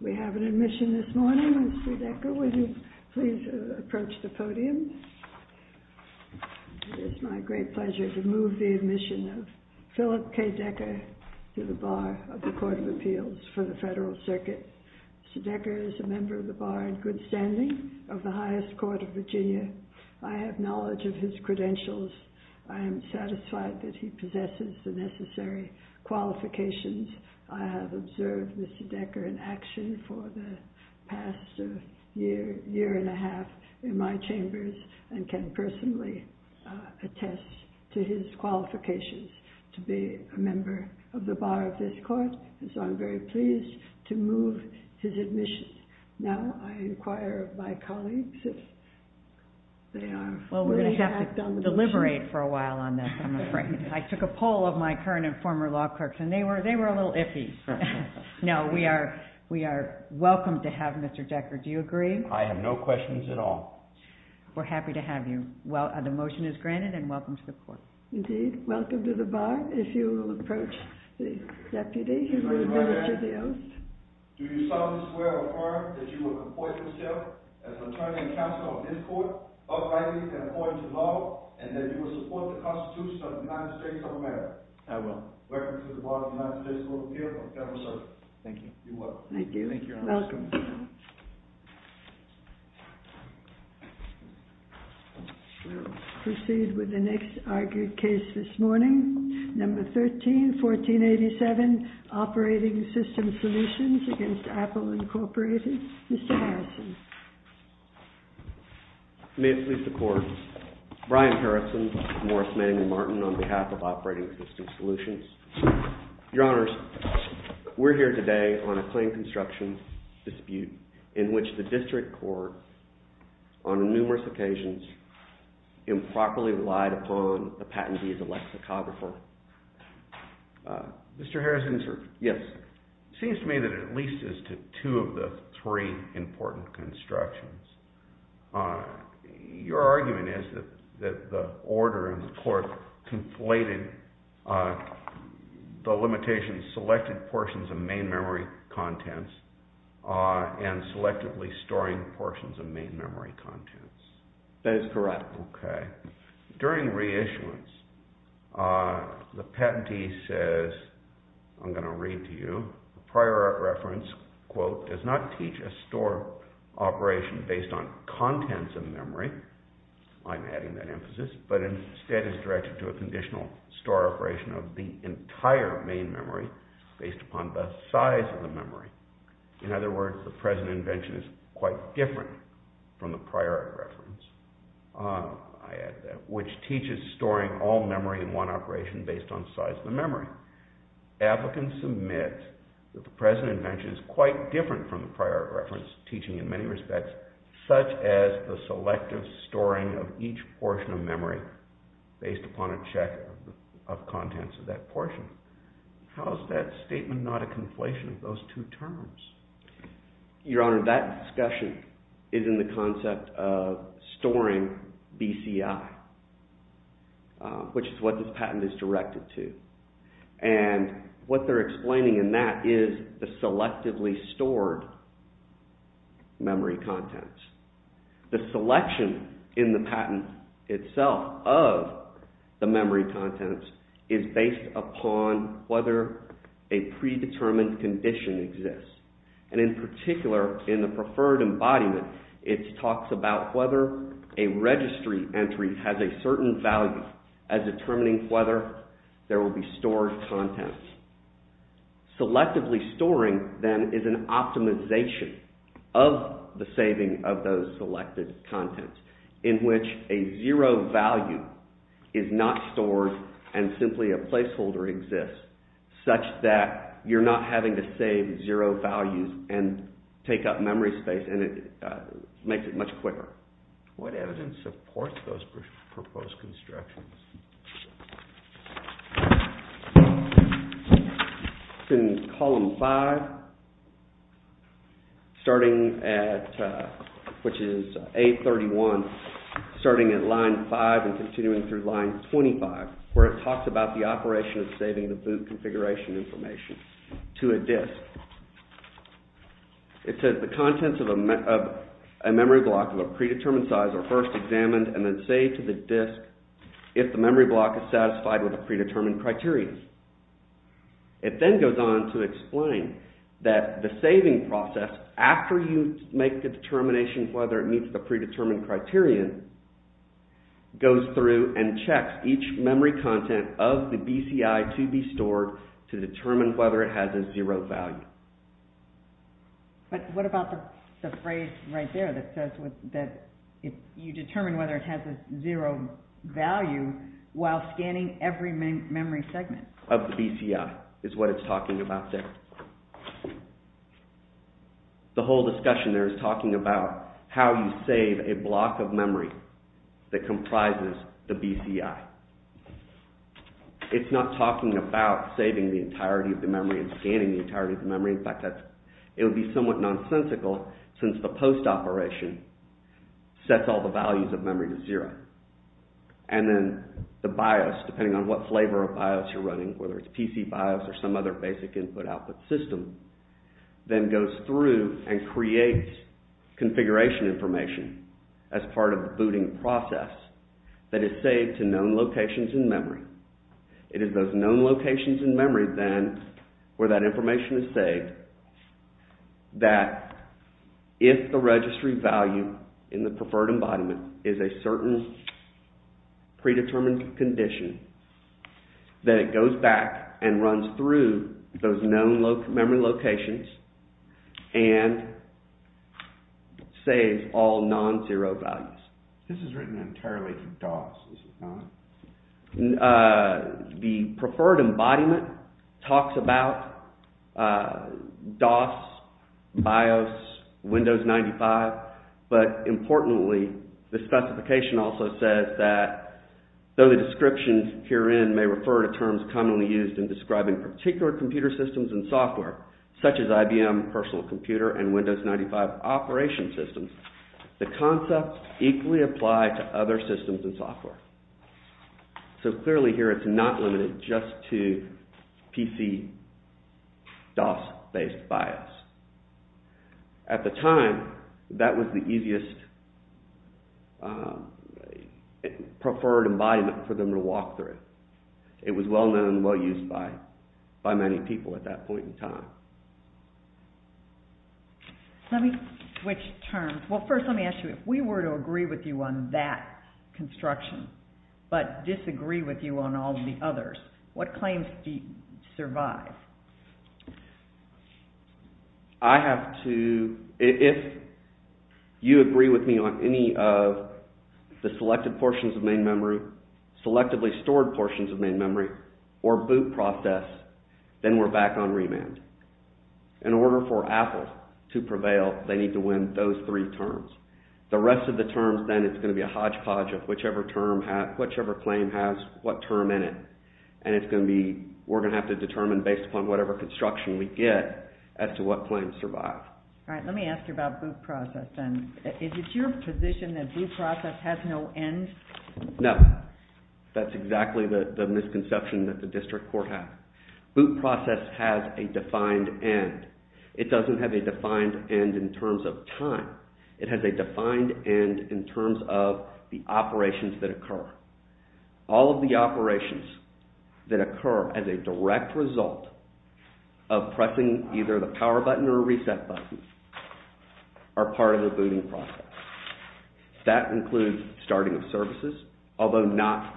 We have an admission this morning. Mr. Decker, would you please approach the podium? It is my great pleasure to move the admission of Philip K. Decker to the Bar of the Court of Appeals for the Federal Circuit. Mr. Decker is a member of the Bar in good standing of the highest court of Virginia. I have knowledge of his credentials. I am satisfied that he possesses the necessary qualifications. I have observed Mr. Decker in action for the past year, year and a half in my chambers and can personally attest to his qualifications to be a member of the Bar of this court. So I'm very pleased to move his admission. Now I inquire of my colleagues if they are willing to act on the motion. Well, we're going to have to deliberate for a while on this, I'm afraid. I took a poll of my current and former law clerks and they were a little iffy. No, we are welcome to have Mr. Decker. Do you agree? I have no questions at all. We're happy to have you. The motion is granted and welcome to the court. Indeed, welcome to the Bar if you will approach the deputy who will administer the oath. Do you solemnly swear or affirm that you will comport yourself as attorney and counsel of this court, uprightly and according to law, and that you will support the Constitution of the United States of America? I will. Welcome to the Bar of the United States Court of Appeals for the Federal Circuit. Thank you. You're welcome. Thank you. Thank you, Your Honor. Welcome. Thank you, Your Honor. We'll proceed with the next argued case this morning. Number 13, 1487, Operating Systems Solutions against Apple Incorporated. Mr. Harrison. May it please the court. Brian Harrison, Morris, Manning & Martin on behalf of Operating Systems Solutions. Your Honors, we're here today on a plain construction dispute in which the district court on numerous occasions improperly relied upon the patentee as a lexicographer. Mr. Harrison. Yes. It seems to me that it at least is to two of the three important constructions. Your argument is that the order in the court conflated the limitations, selected portions of main memory contents and selectively storing portions of main memory contents. That is correct. Okay. Prior reference, quote, does not teach a store operation based on contents of memory. I'm adding that emphasis. But instead is directed to a conditional store operation of the entire main memory based upon the size of the memory. In other words, the present invention is quite different from the prior reference. I add that. Which teaches storing all memory in one operation based on size of the memory. Your Honor, applicants submit that the present invention is quite different from the prior reference teaching in many respects, such as the selective storing of each portion of memory based upon a check of contents of that portion. How is that statement not a conflation of those two terms? Your Honor, that discussion is in the concept of storing BCI, which is what this patent is directed to. And what they're explaining in that is the selectively stored memory contents. The selection in the patent itself of the memory contents is based upon whether a predetermined condition exists. And in particular, in the preferred embodiment, it talks about whether a registry entry has a certain value as determining whether there will be stored contents. Selectively storing then is an optimization of the saving of those selected contents in which a zero value is not stored and simply a placeholder exists such that you're not having to save zero values and take up memory space and it makes it much quicker. What evidence supports those proposed constructions? In column 5, starting at, which is A31, starting at line 5 and continuing through line 25, where it talks about the operation of saving the boot configuration information to a disk. It says the contents of a memory block of a predetermined size are first examined and then saved to the disk if the memory block is satisfied with the predetermined criteria. It then goes on to explain that the saving process, after you make the determination whether it meets the predetermined criteria, goes through and checks each memory content of the BCI to be stored to determine whether it has a zero value. But what about the phrase right there that says that you determine whether it has a zero value while scanning every memory segment? Of the BCI is what it's talking about there. The whole discussion there is talking about how you save a block of memory that comprises the BCI. It's not talking about saving the entirety of the memory and scanning the entirety of the memory. In fact, it would be somewhat nonsensical since the post operation sets all the values of memory to zero. And then the BIOS, depending on what flavor of BIOS you're running, whether it's PC BIOS or some other basic input-output system, then goes through and creates configuration information as part of the booting process that is saved to known locations in memory. It is those known locations in memory then where that information is saved that if the registry value in the preferred embodiment is a certain predetermined condition, then it goes back and runs through those known memory locations and saves all non-zero values. This is written entirely for DOS, is it not? The preferred embodiment talks about DOS, BIOS, Windows 95. But importantly, the specification also says that though the descriptions herein may refer to terms commonly used in describing particular computer systems and software, such as IBM Personal Computer and Windows 95 operation systems, the concepts equally apply to other systems and software. So clearly here it's not limited just to PC DOS-based BIOS. At the time, that was the easiest preferred embodiment for them to walk through. It was well-known and well-used by many people at that point in time. Let me switch terms. Well, first let me ask you, if we were to agree with you on that construction but disagree with you on all the others, what claims do you survive? If you agree with me on any of the selected portions of main memory, selectively stored portions of main memory, or boot process, then we're back on remand. In order for Apple to prevail, they need to win those three terms. The rest of the terms then, it's going to be a hodgepodge of whichever claim has what term in it. And we're going to have to determine based upon whatever construction we get as to what claims survive. All right, let me ask you about boot process then. Is it your position that boot process has no end? No, that's exactly the misconception that the district court has. Boot process has a defined end. It doesn't have a defined end in terms of time. It has a defined end in terms of the operations that occur. All of the operations that occur as a direct result of pressing either the power button or reset button are part of the booting process. That includes starting of services, although not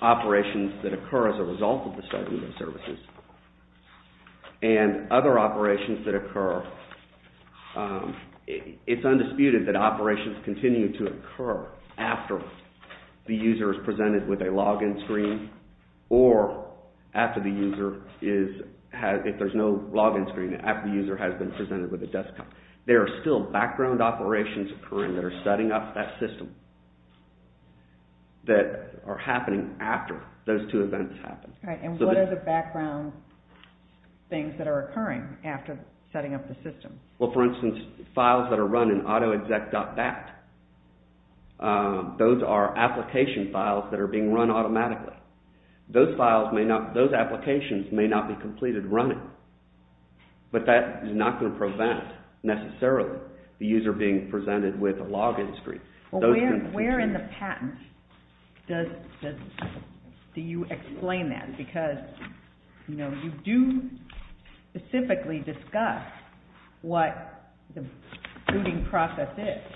operations that occur as a result of the starting of services. And other operations that occur, it's undisputed that operations continue to occur after the user is presented with a login screen or after the user is, if there's no login screen, after the user has been presented with a desktop. There are still background operations occurring that are setting up that system that are happening after those two events happen. All right, and what are the background things that are occurring after setting up the system? Well, for instance, files that are run in autoexec.bat. Those are application files that are being run automatically. Those files may not, those applications may not be completed running, but that is not going to prevent necessarily the user being presented with a login screen. Well, where in the patent do you explain that? Because, you know, you do specifically discuss what the booting process is.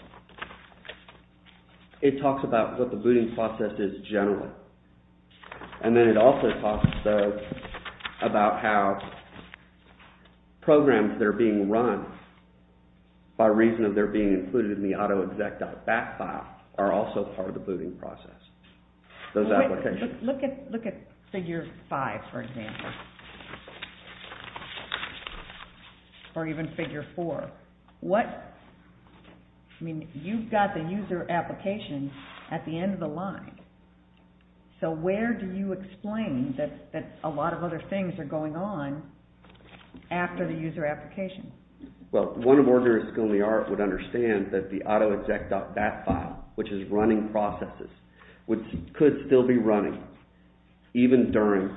It talks about what the booting process is generally. And then it also talks about how programs that are being run by reason of their being included in the autoexec.bat file are also part of the booting process. Those applications. Look at figure five, for example, or even figure four. What, I mean, you've got the user application at the end of the line. So where do you explain that a lot of other things are going on after the user application? Well, one of the workers in the art would understand that the autoexec.bat file, which is running processes, could still be running even during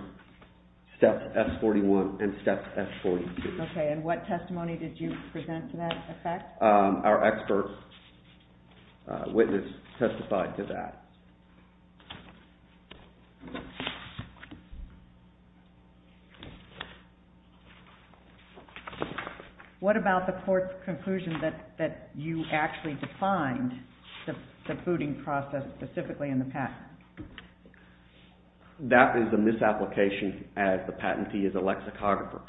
steps F41 and steps F42. Okay, and what testimony did you present to that effect? Our expert witness testified to that. What about the court's conclusion that you actually defined the booting process specifically in the patent? That is a misapplication as the patentee is a lexicographer.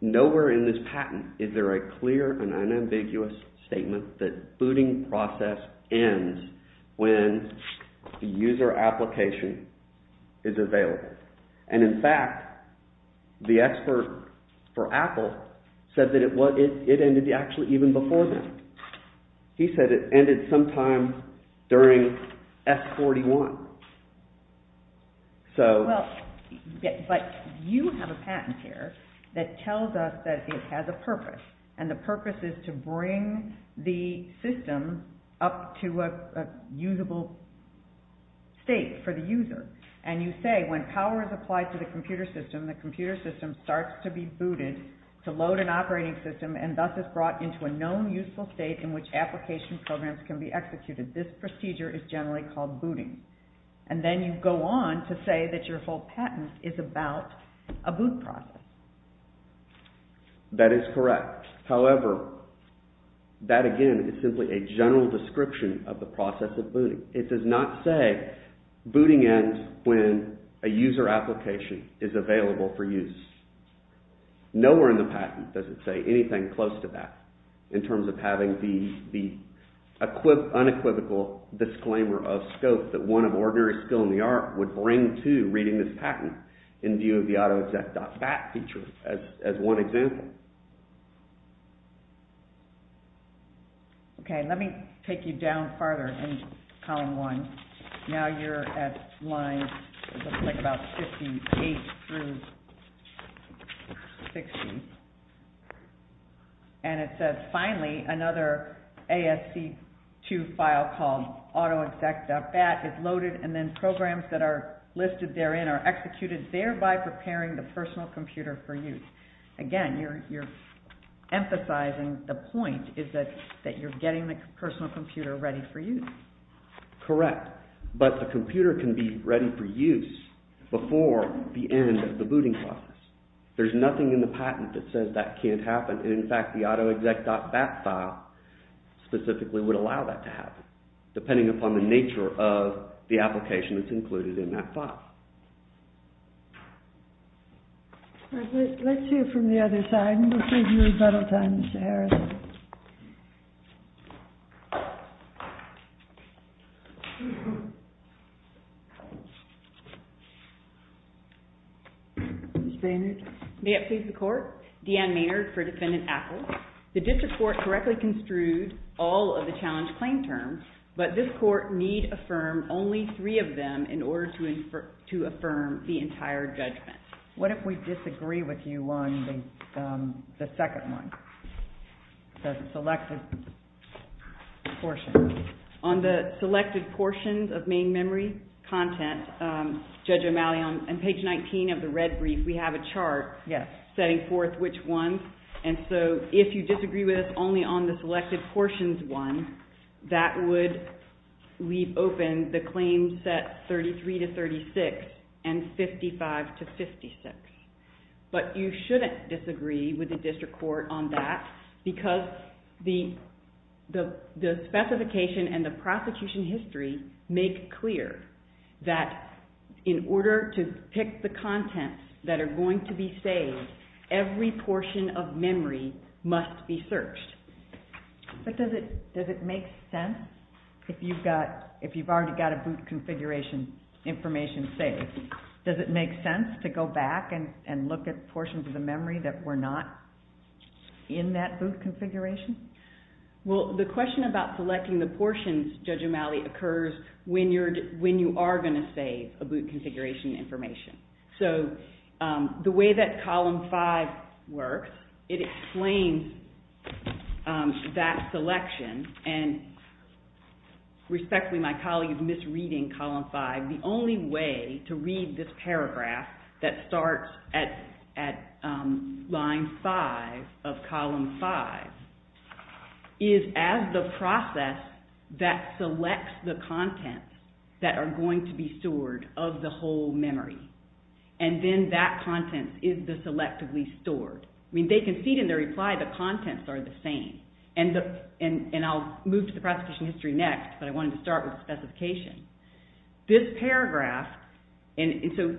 Nowhere in this patent is there a clear and unambiguous statement that booting process ends when the user application is available. And in fact, the expert for Apple said that it ended actually even before then. He said it ended sometime during F41. But you have a patent here that tells us that it has a purpose, and the purpose is to bring the system up to a usable state for the user. And you say, when power is applied to the computer system, the computer system starts to be booted to load an operating system and thus is brought into a known useful state in which application programs can be executed. This procedure is generally called booting. And then you go on to say that your whole patent is about a boot process. That is correct. However, that again is simply a general description of the process of booting. It does not say booting ends when a user application is available for use. Nowhere in the patent does it say anything close to that in terms of having the unequivocal disclaimer of scope that one of ordinary skill in the art would bring to reading this patent in view of the autoexec.bat feature as one example. Okay, let me take you down farther in column one. Now you're at lines, it looks like about 58 through 60. And it says, finally, another ASC2 file called autoexec.bat is loaded and then programs that are listed therein are executed thereby preparing the personal computer for use. Again, you're emphasizing the point is that you're getting the personal computer ready for use. Correct, but the computer can be ready for use before the end of the booting process. There's nothing in the patent that says that can't happen. In fact, the autoexec.bat file specifically would allow that to happen depending upon the nature of the application that's included in that file. Let's hear from the other side and we'll save you rebuttal time, Mr. Harris. Ms. Maynard. May it please the Court. Deanne Maynard for Defendant Apple. The district court correctly construed all of the challenge claim terms, but this court need affirm only three of them in order to affirm the entire judgment. What if we disagree with you on the second one, the selected portion? On the selected portions of main memory content, Judge O'Malley, on page 19 of the red brief, we have a chart setting forth which ones. And so if you disagree with us only on the selected portions one, that would leave open the claims set 33 to 36 and 55 to 56. But you shouldn't disagree with the district court on that because the specification and the prosecution history make clear that in order to pick the contents that are going to be saved, every portion of memory must be searched. But does it make sense if you've already got a boot configuration information saved? Does it make sense to go back and look at portions of the memory that were not in that boot configuration? Well, the question about selecting the portions, Judge O'Malley, occurs when you are going to save a boot configuration information. So the way that Column 5 works, it explains that selection. And respectfully, my colleague is misreading Column 5. The only way to read this paragraph that starts at line 5 of Column 5 is as the process that selects the contents that are going to be stored of the whole memory. And then that content is the selectively stored. They concede in their reply the contents are the same. And I'll move to the prosecution history next, but I wanted to start with the specification. This paragraph, and so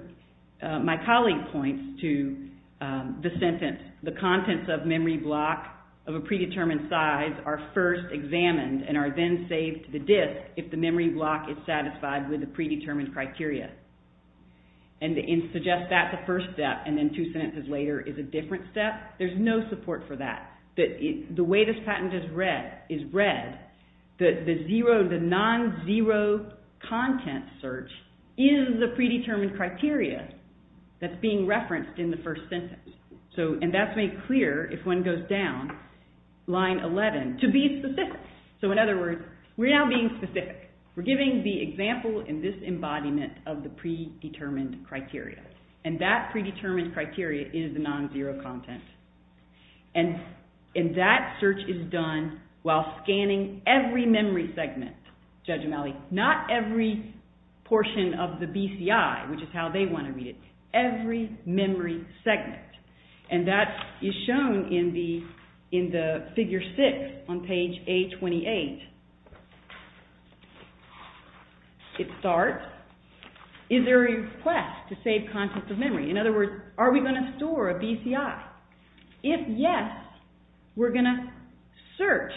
my colleague points to the sentence, the contents of memory block of a predetermined size are first examined and are then saved to the disk if the memory block is satisfied with the predetermined criteria. And to suggest that the first step and then two sentences later is a different step, there's no support for that. The way this patent is read, the non-zero content search is the predetermined criteria that's being referenced in the first sentence. And that's made clear if one goes down line 11, to be specific. So in other words, we're now being specific. We're giving the example in this embodiment of the predetermined criteria. And that predetermined criteria is the non-zero content. And that search is done while scanning every memory segment, Judge O'Malley, not every portion of the BCI, which is how they want to read it, but every memory segment. And that is shown in the figure 6 on page A28. It starts, is there a request to save contents of memory? In other words, are we going to store a BCI? If yes, we're going to search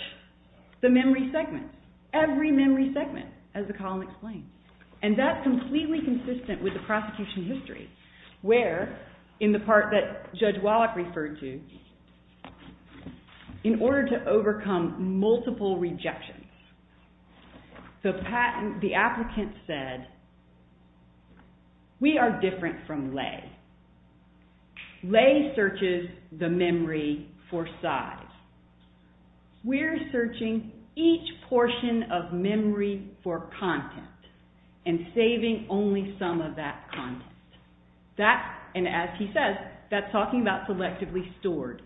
the memory segment, every memory segment, as the column explains. And that's completely consistent with the prosecution history. Where, in the part that Judge Wallach referred to, in order to overcome multiple rejections, the patent, the applicant said, we are different from Lay. Lay searches the memory for size. We're searching each portion of memory for content and saving only some of that content. That, and as he says, that's talking about selectively stored.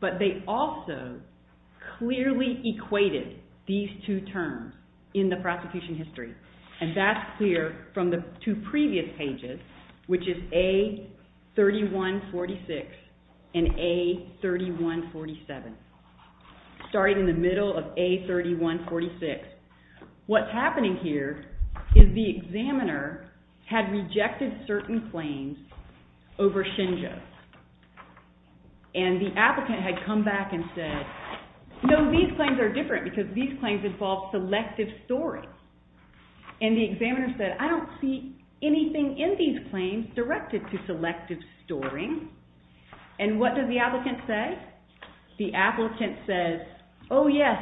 But they also clearly equated these two terms in the prosecution history. And that's clear from the two previous pages, which is A3146 and A3147. Starting in the middle of A3146. What's happening here is the examiner had rejected certain claims over Shinjo. And the applicant had come back and said, no, these claims are different because these claims involve selective storing. And the examiner said, I don't see anything in these claims directed to selective storing. And what does the applicant say? The applicant says, oh yes,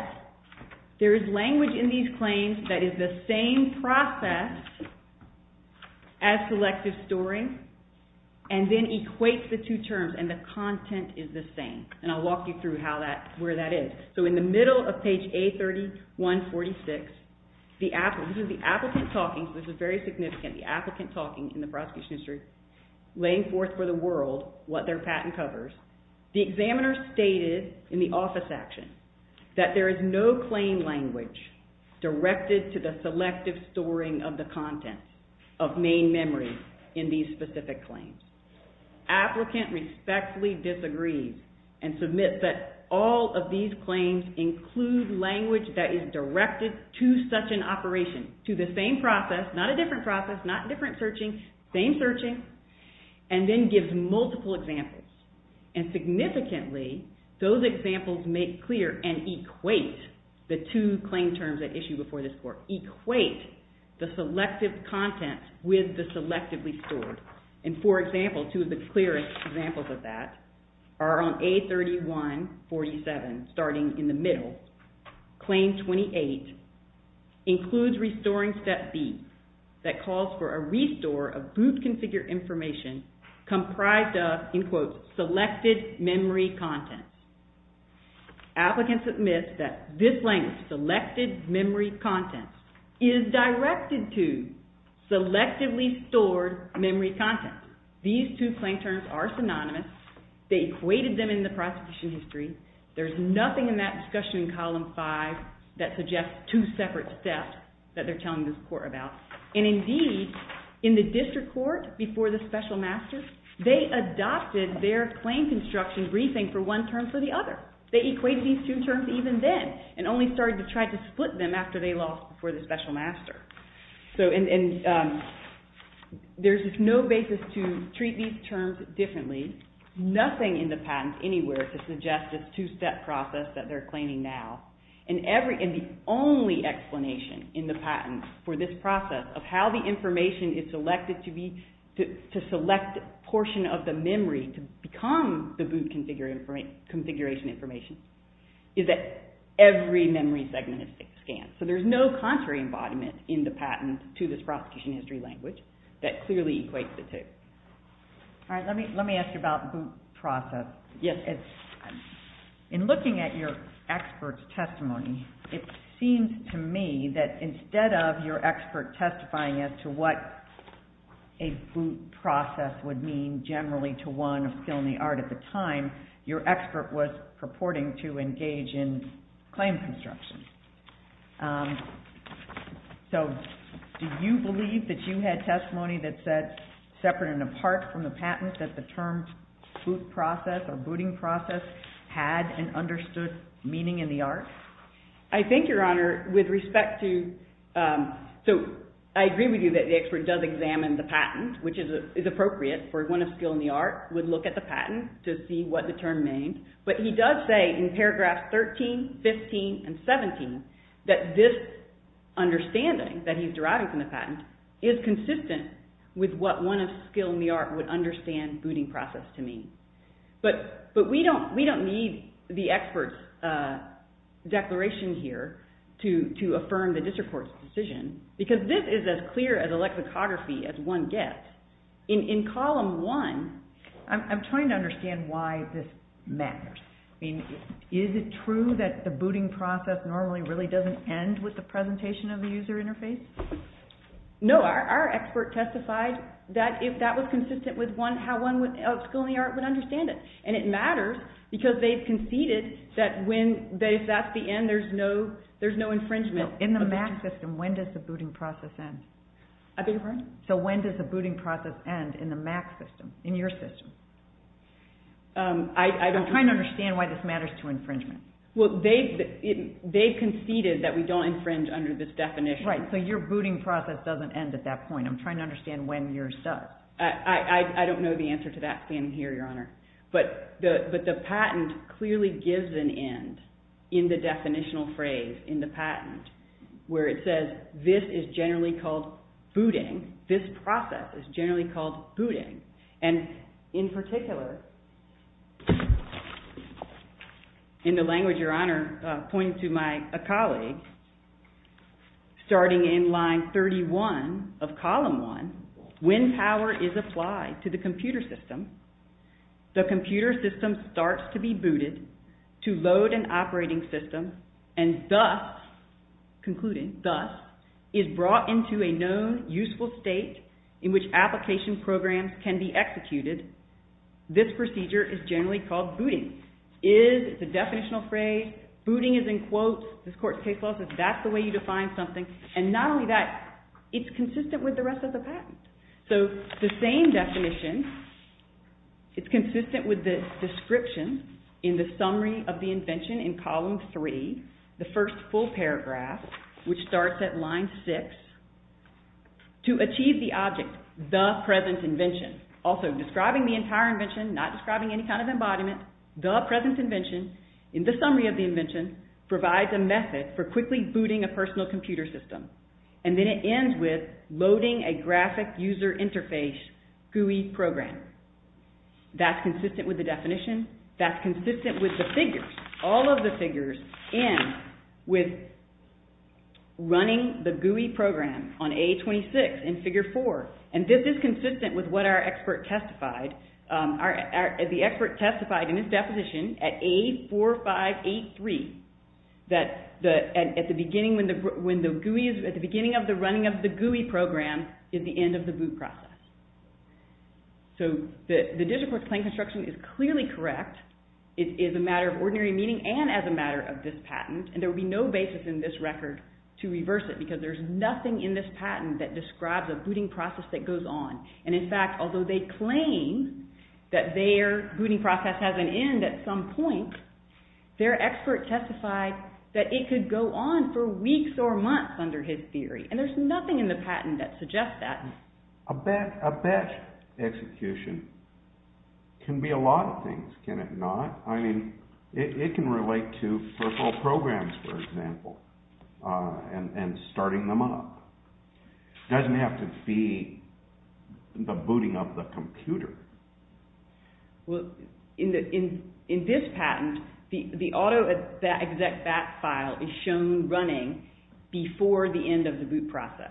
there is language in these claims that is the same process as selective storing. And then equates the two terms. And the content is the same. And I'll walk you through where that is. So in the middle of page A3146, this is the applicant talking, so this is very significant, the applicant talking in the prosecution history, laying forth for the world what their patent covers. The examiner stated in the office action that there is no claim language directed to the selective storing of the content of main memory in these specific claims. Applicant respectfully disagrees and submits that all of these claims include language that is directed to such an operation, to the same process, not a different process, not different searching, same searching, and then gives multiple examples. And significantly, those examples make clear and equate the two claim terms that issue before this court, equate the selective content with the selectively stored. And for example, two of the clearest examples of that claim 28 includes restoring step B that calls for a restore of boot configure information comprised of, in quotes, selected memory content. Applicant submits that this language, selected memory content, is directed to selectively stored memory content. These two claim terms are synonymous. They equated them in the prosecution history. There's nothing in that discussion in column five that suggests two separate steps that they're telling this court about. And indeed, in the district court before the special master, they adopted their claim construction briefing for one term for the other. They equated these two terms even then and only started to try to split them after they lost before the special master. And there's just no basis to treat these terms differently. Nothing in the patent anywhere to suggest this two-step process that they're claiming now. And the only explanation in the patent for this process of how the information is selected to select a portion of the memory to become the boot configuration information is that every memory segment is scanned. So there's no contrary embodiment in the patent to this prosecution history language that clearly equates the two. All right, let me ask you about boot process. Yes. In looking at your expert's testimony, it seems to me that instead of your expert testifying as to what a boot process would mean generally to one of skill and the art at the time, your expert was purporting to engage in claim construction. So do you believe that you had testimony that said separate and apart from the patent that the term boot process or booting process had an understood meaning in the art? I think, Your Honor, with respect to... So I agree with you that the expert does examine the patent, which is appropriate for one of skill and the art, would look at the patent to see what the term means. But he does say in paragraphs 13, 15, and 17 that this understanding that he's deriving from the patent is consistent with what one of skill and the art would understand booting process to mean. But we don't need the expert's declaration here to affirm the district court's decision because this is as clear as a lexicography as one gets. In column 1... I'm trying to understand why this matters. I mean, is it true that the booting process normally really doesn't end with the presentation of the user interface? No, our expert testified that if that was consistent with how one of skill and the art would understand it. And it matters because they've conceded that if that's the end, there's no infringement. In the MAC system, when does the booting process end? I beg your pardon? So when does the booting process end in the MAC system, in your system? I'm trying to understand why this matters to infringement. Well, they've conceded that we don't infringe under this definition. Right, so your booting process doesn't end at that point. I'm trying to understand when yours does. I don't know the answer to that standing here, Your Honor. But the patent clearly gives an end in the definitional phrase in the patent where it says this is generally called booting. This process is generally called booting. And in particular... In the language, Your Honor, pointed to my colleague, starting in line 31 of column 1, when power is applied to the computer system, the computer system starts to be booted to load an operating system, and thus, concluding, thus, is brought into a known useful state in which application programs can be executed, this procedure is generally called booting. It's a definitional phrase. Booting is in quotes. This court's case law says that's the way you define something. And not only that, it's consistent with the rest of the patent. So the same definition, it's consistent with the description in the summary of the invention in column 3, the first full paragraph, which starts at line 6, to achieve the object, the present invention. Also, describing the entire invention, not describing any kind of embodiment, the present invention, in the summary of the invention, provides a method for quickly booting a personal computer system. And then it ends with loading a graphic user interface GUI program. That's consistent with the definition. That's consistent with the figures. All of the figures end with running the GUI program on A26 in figure 4. And this is consistent with what our expert testified. The expert testified in his definition at A4583 that at the beginning of the running of the GUI program is the end of the boot process. So the District Court's claim construction is clearly correct. It is a matter of ordinary meaning and as a matter of this patent. to reverse it because there's nothing in this patent that describes a booting process that goes on. And in fact, although they claim that their booting process has an end at some point, their expert testified that it could go on for weeks or months under his theory. And there's nothing in the patent that suggests that. A batch execution can be a lot of things, can it not? I mean, it can relate to virtual programs, for example, and starting them up. It doesn't have to be the booting of the computer. Well, in this patent, the autoexec.bat file is shown running before the end of the boot process.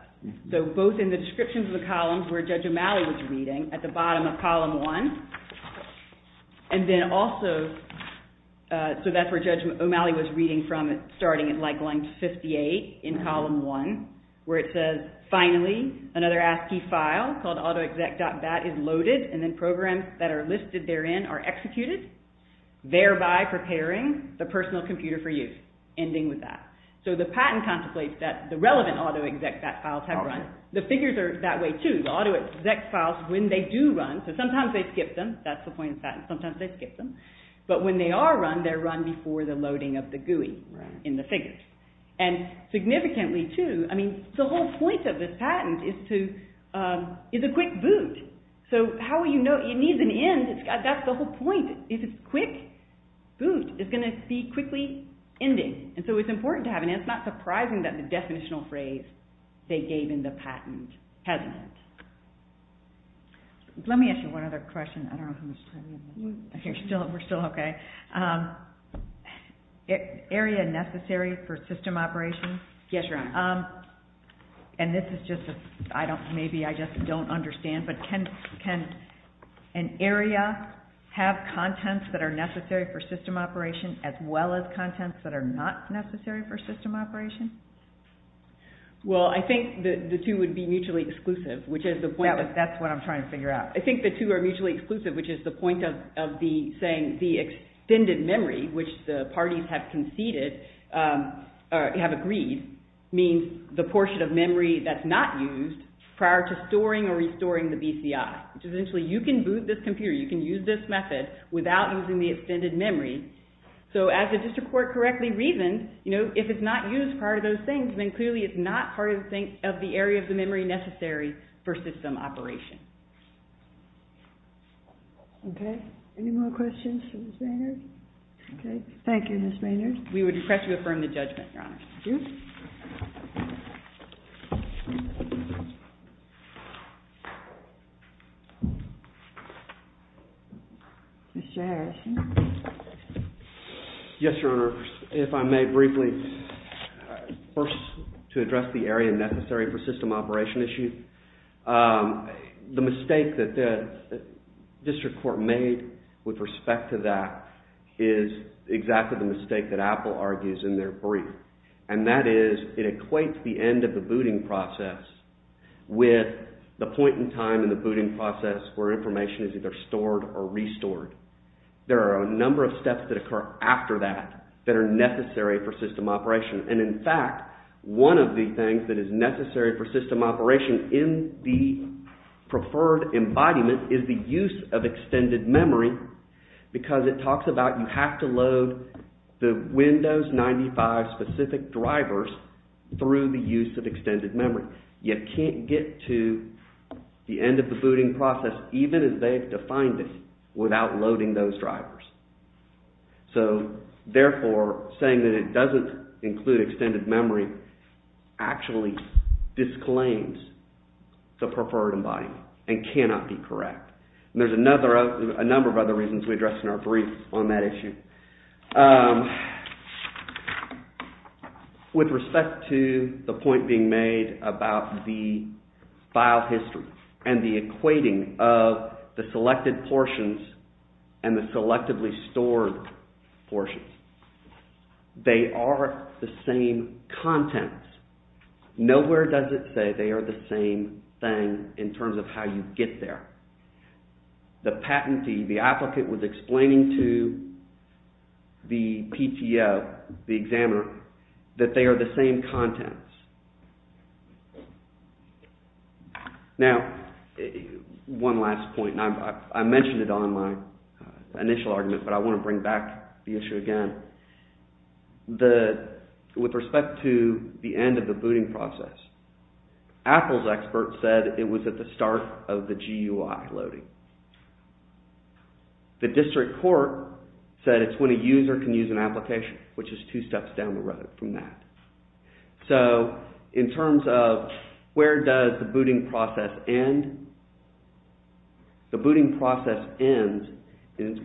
So both in the descriptions of the columns where Judge O'Malley was reading at the bottom of column 1, and then also, so that's where Judge O'Malley was reading from starting at like line 58 in column 1 where it says, finally, another ASCII file called autoexec.bat is loaded and then programs that are listed therein are executed, thereby preparing the personal computer for use, ending with that. So the patent contemplates that the relevant autoexec.bat files have run. The figures are that way too. The autoexec.bat files, when they do run, so sometimes they skip them, that's the point of the patent, sometimes they skip them, but when they are run, they're run before the loading of the GUI in the figures. And significantly too, I mean, the whole point of this patent is to, is a quick boot. So how will you know, it needs an end, that's the whole point. It's a quick boot. It's going to be quickly ending. And so it's important to have an end. It's not surprising that the definitional phrase they gave in the patent has an end. Let me ask you one other question. I don't know how much time we have left. We're still okay. Area necessary for system operations? Yes, Your Honor. And this is just a, maybe I just don't understand, but can an area have contents that are necessary for system operations as well as contents that are not necessary for system operations? Well, I think the two would be mutually exclusive, which is the point. That's what I'm trying to figure out. I think the two are mutually exclusive, which is the point of the saying, the extended memory, which the parties have conceded, or have agreed, means the portion of memory that's not used prior to storing or restoring the BCI. So essentially you can boot this computer, you can use this method without using the extended memory. So as the district court correctly reasoned, if it's not used prior to those things, then clearly it's not part of the area of the memory necessary for system operation. Any more questions for Ms. Maynard? Thank you, Ms. Maynard. We would request you affirm the judgment, Your Honor. Mr. Harrison? Yes, Your Honor. If I may briefly, first to address the area necessary for system operation issues. The mistake that the district court made with respect to that is exactly the mistake that Apple argues in their brief. And that is, it equates the end of the booting process with the point in time in the booting process where information is either stored or restored. There are a number of steps that occur after that that are necessary for system operation. And in fact, one of the things that is necessary for system operation in the preferred embodiment is the use of extended memory because it talks about you have to load the Windows 95 specific drivers through the use of extended memory. You can't get to the end of the booting process even if they've defined it without loading those drivers. So, therefore, saying that it doesn't include extended memory actually disclaims the preferred embodiment and cannot be correct. There's a number of other reasons we address in our brief on that issue. With respect to the point being made about the file history and the equating of the selected portions and the selectively stored portions, they are the same contents. Nowhere does it say they are the same thing in terms of how you get there. The patentee, the applicant, was explaining to the PTO, the examiner, that they are the same contents. Now, one last point. I mentioned it on my initial argument, but I want to bring back the issue again. With respect to the end of the booting process, Apple's expert said it was at the start of the GUI. The district court said it's when a user can use an application, which is two steps down the road from that. So, in terms of where does the booting process end? The booting process ends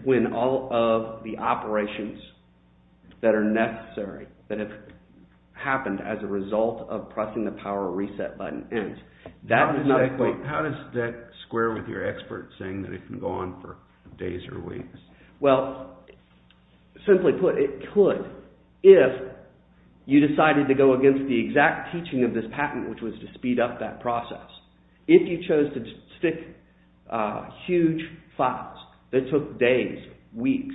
when all of the operations that are necessary that have happened as a result of pressing the power reset button ends. How does that square with your expert saying that it can go on for days or weeks? Well, simply put, it could. If you decided to go against the exact teaching of this patent, which was to speed up that process. If you chose to stick huge files that took days, weeks,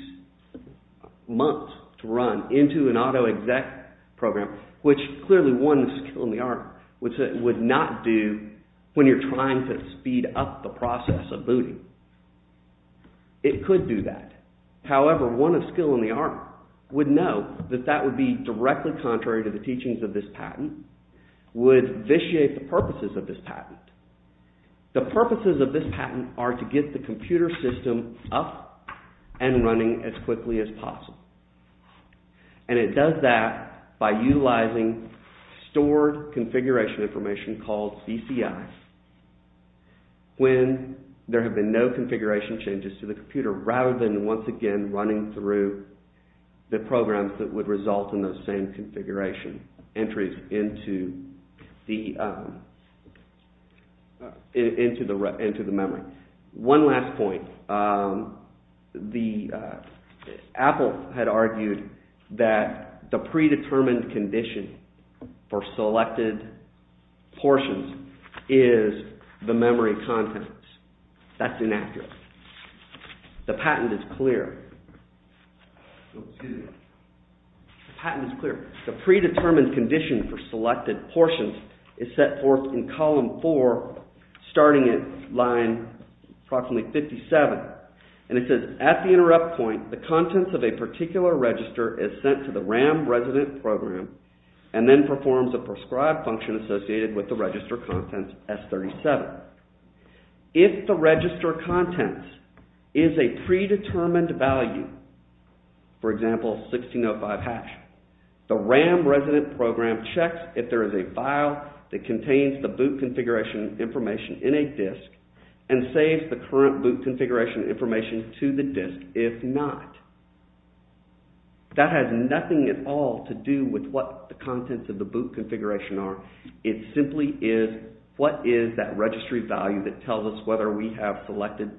months to run into an auto exec program, which clearly won the skill in the arm, which it would not do when you're trying to speed up the process of booting. It could do that. However, one of skill in the arm would know that that would be directly contrary to the teachings of this patent, would vitiate the purposes of this patent. The purposes of this patent are to get the computer system up and running as quickly as possible. And it does that by utilizing stored configuration information called CCI when there have been no configuration changes to the computer, rather than once again running through the programs that would result in those same configuration entries into the memory. One last point. Apple had argued that the predetermined condition for selected portions is the memory contents. That's inaccurate. The patent is clear. The patent is clear. The predetermined condition for selected portions is set forth in column four, starting at line approximately 57. And it says, at the interrupt point, the contents of a particular register is sent to the RAM resident program and then performs a prescribed function associated with the register contents S37. If the register contents is a predetermined value, for example, 1605 hash, the RAM resident program checks if there is a file that contains the boot configuration information in a disk and saves the current boot configuration information to the disk, if not. That has nothing at all to do with what the contents of the boot configuration are. It simply is what is that registry value that tells us whether we have selected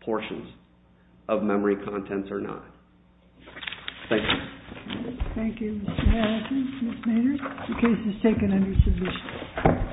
portions of memory contents or not. Thank you. Thank you, Mr. Madison. Ms. Maynard, the case is taken under submission.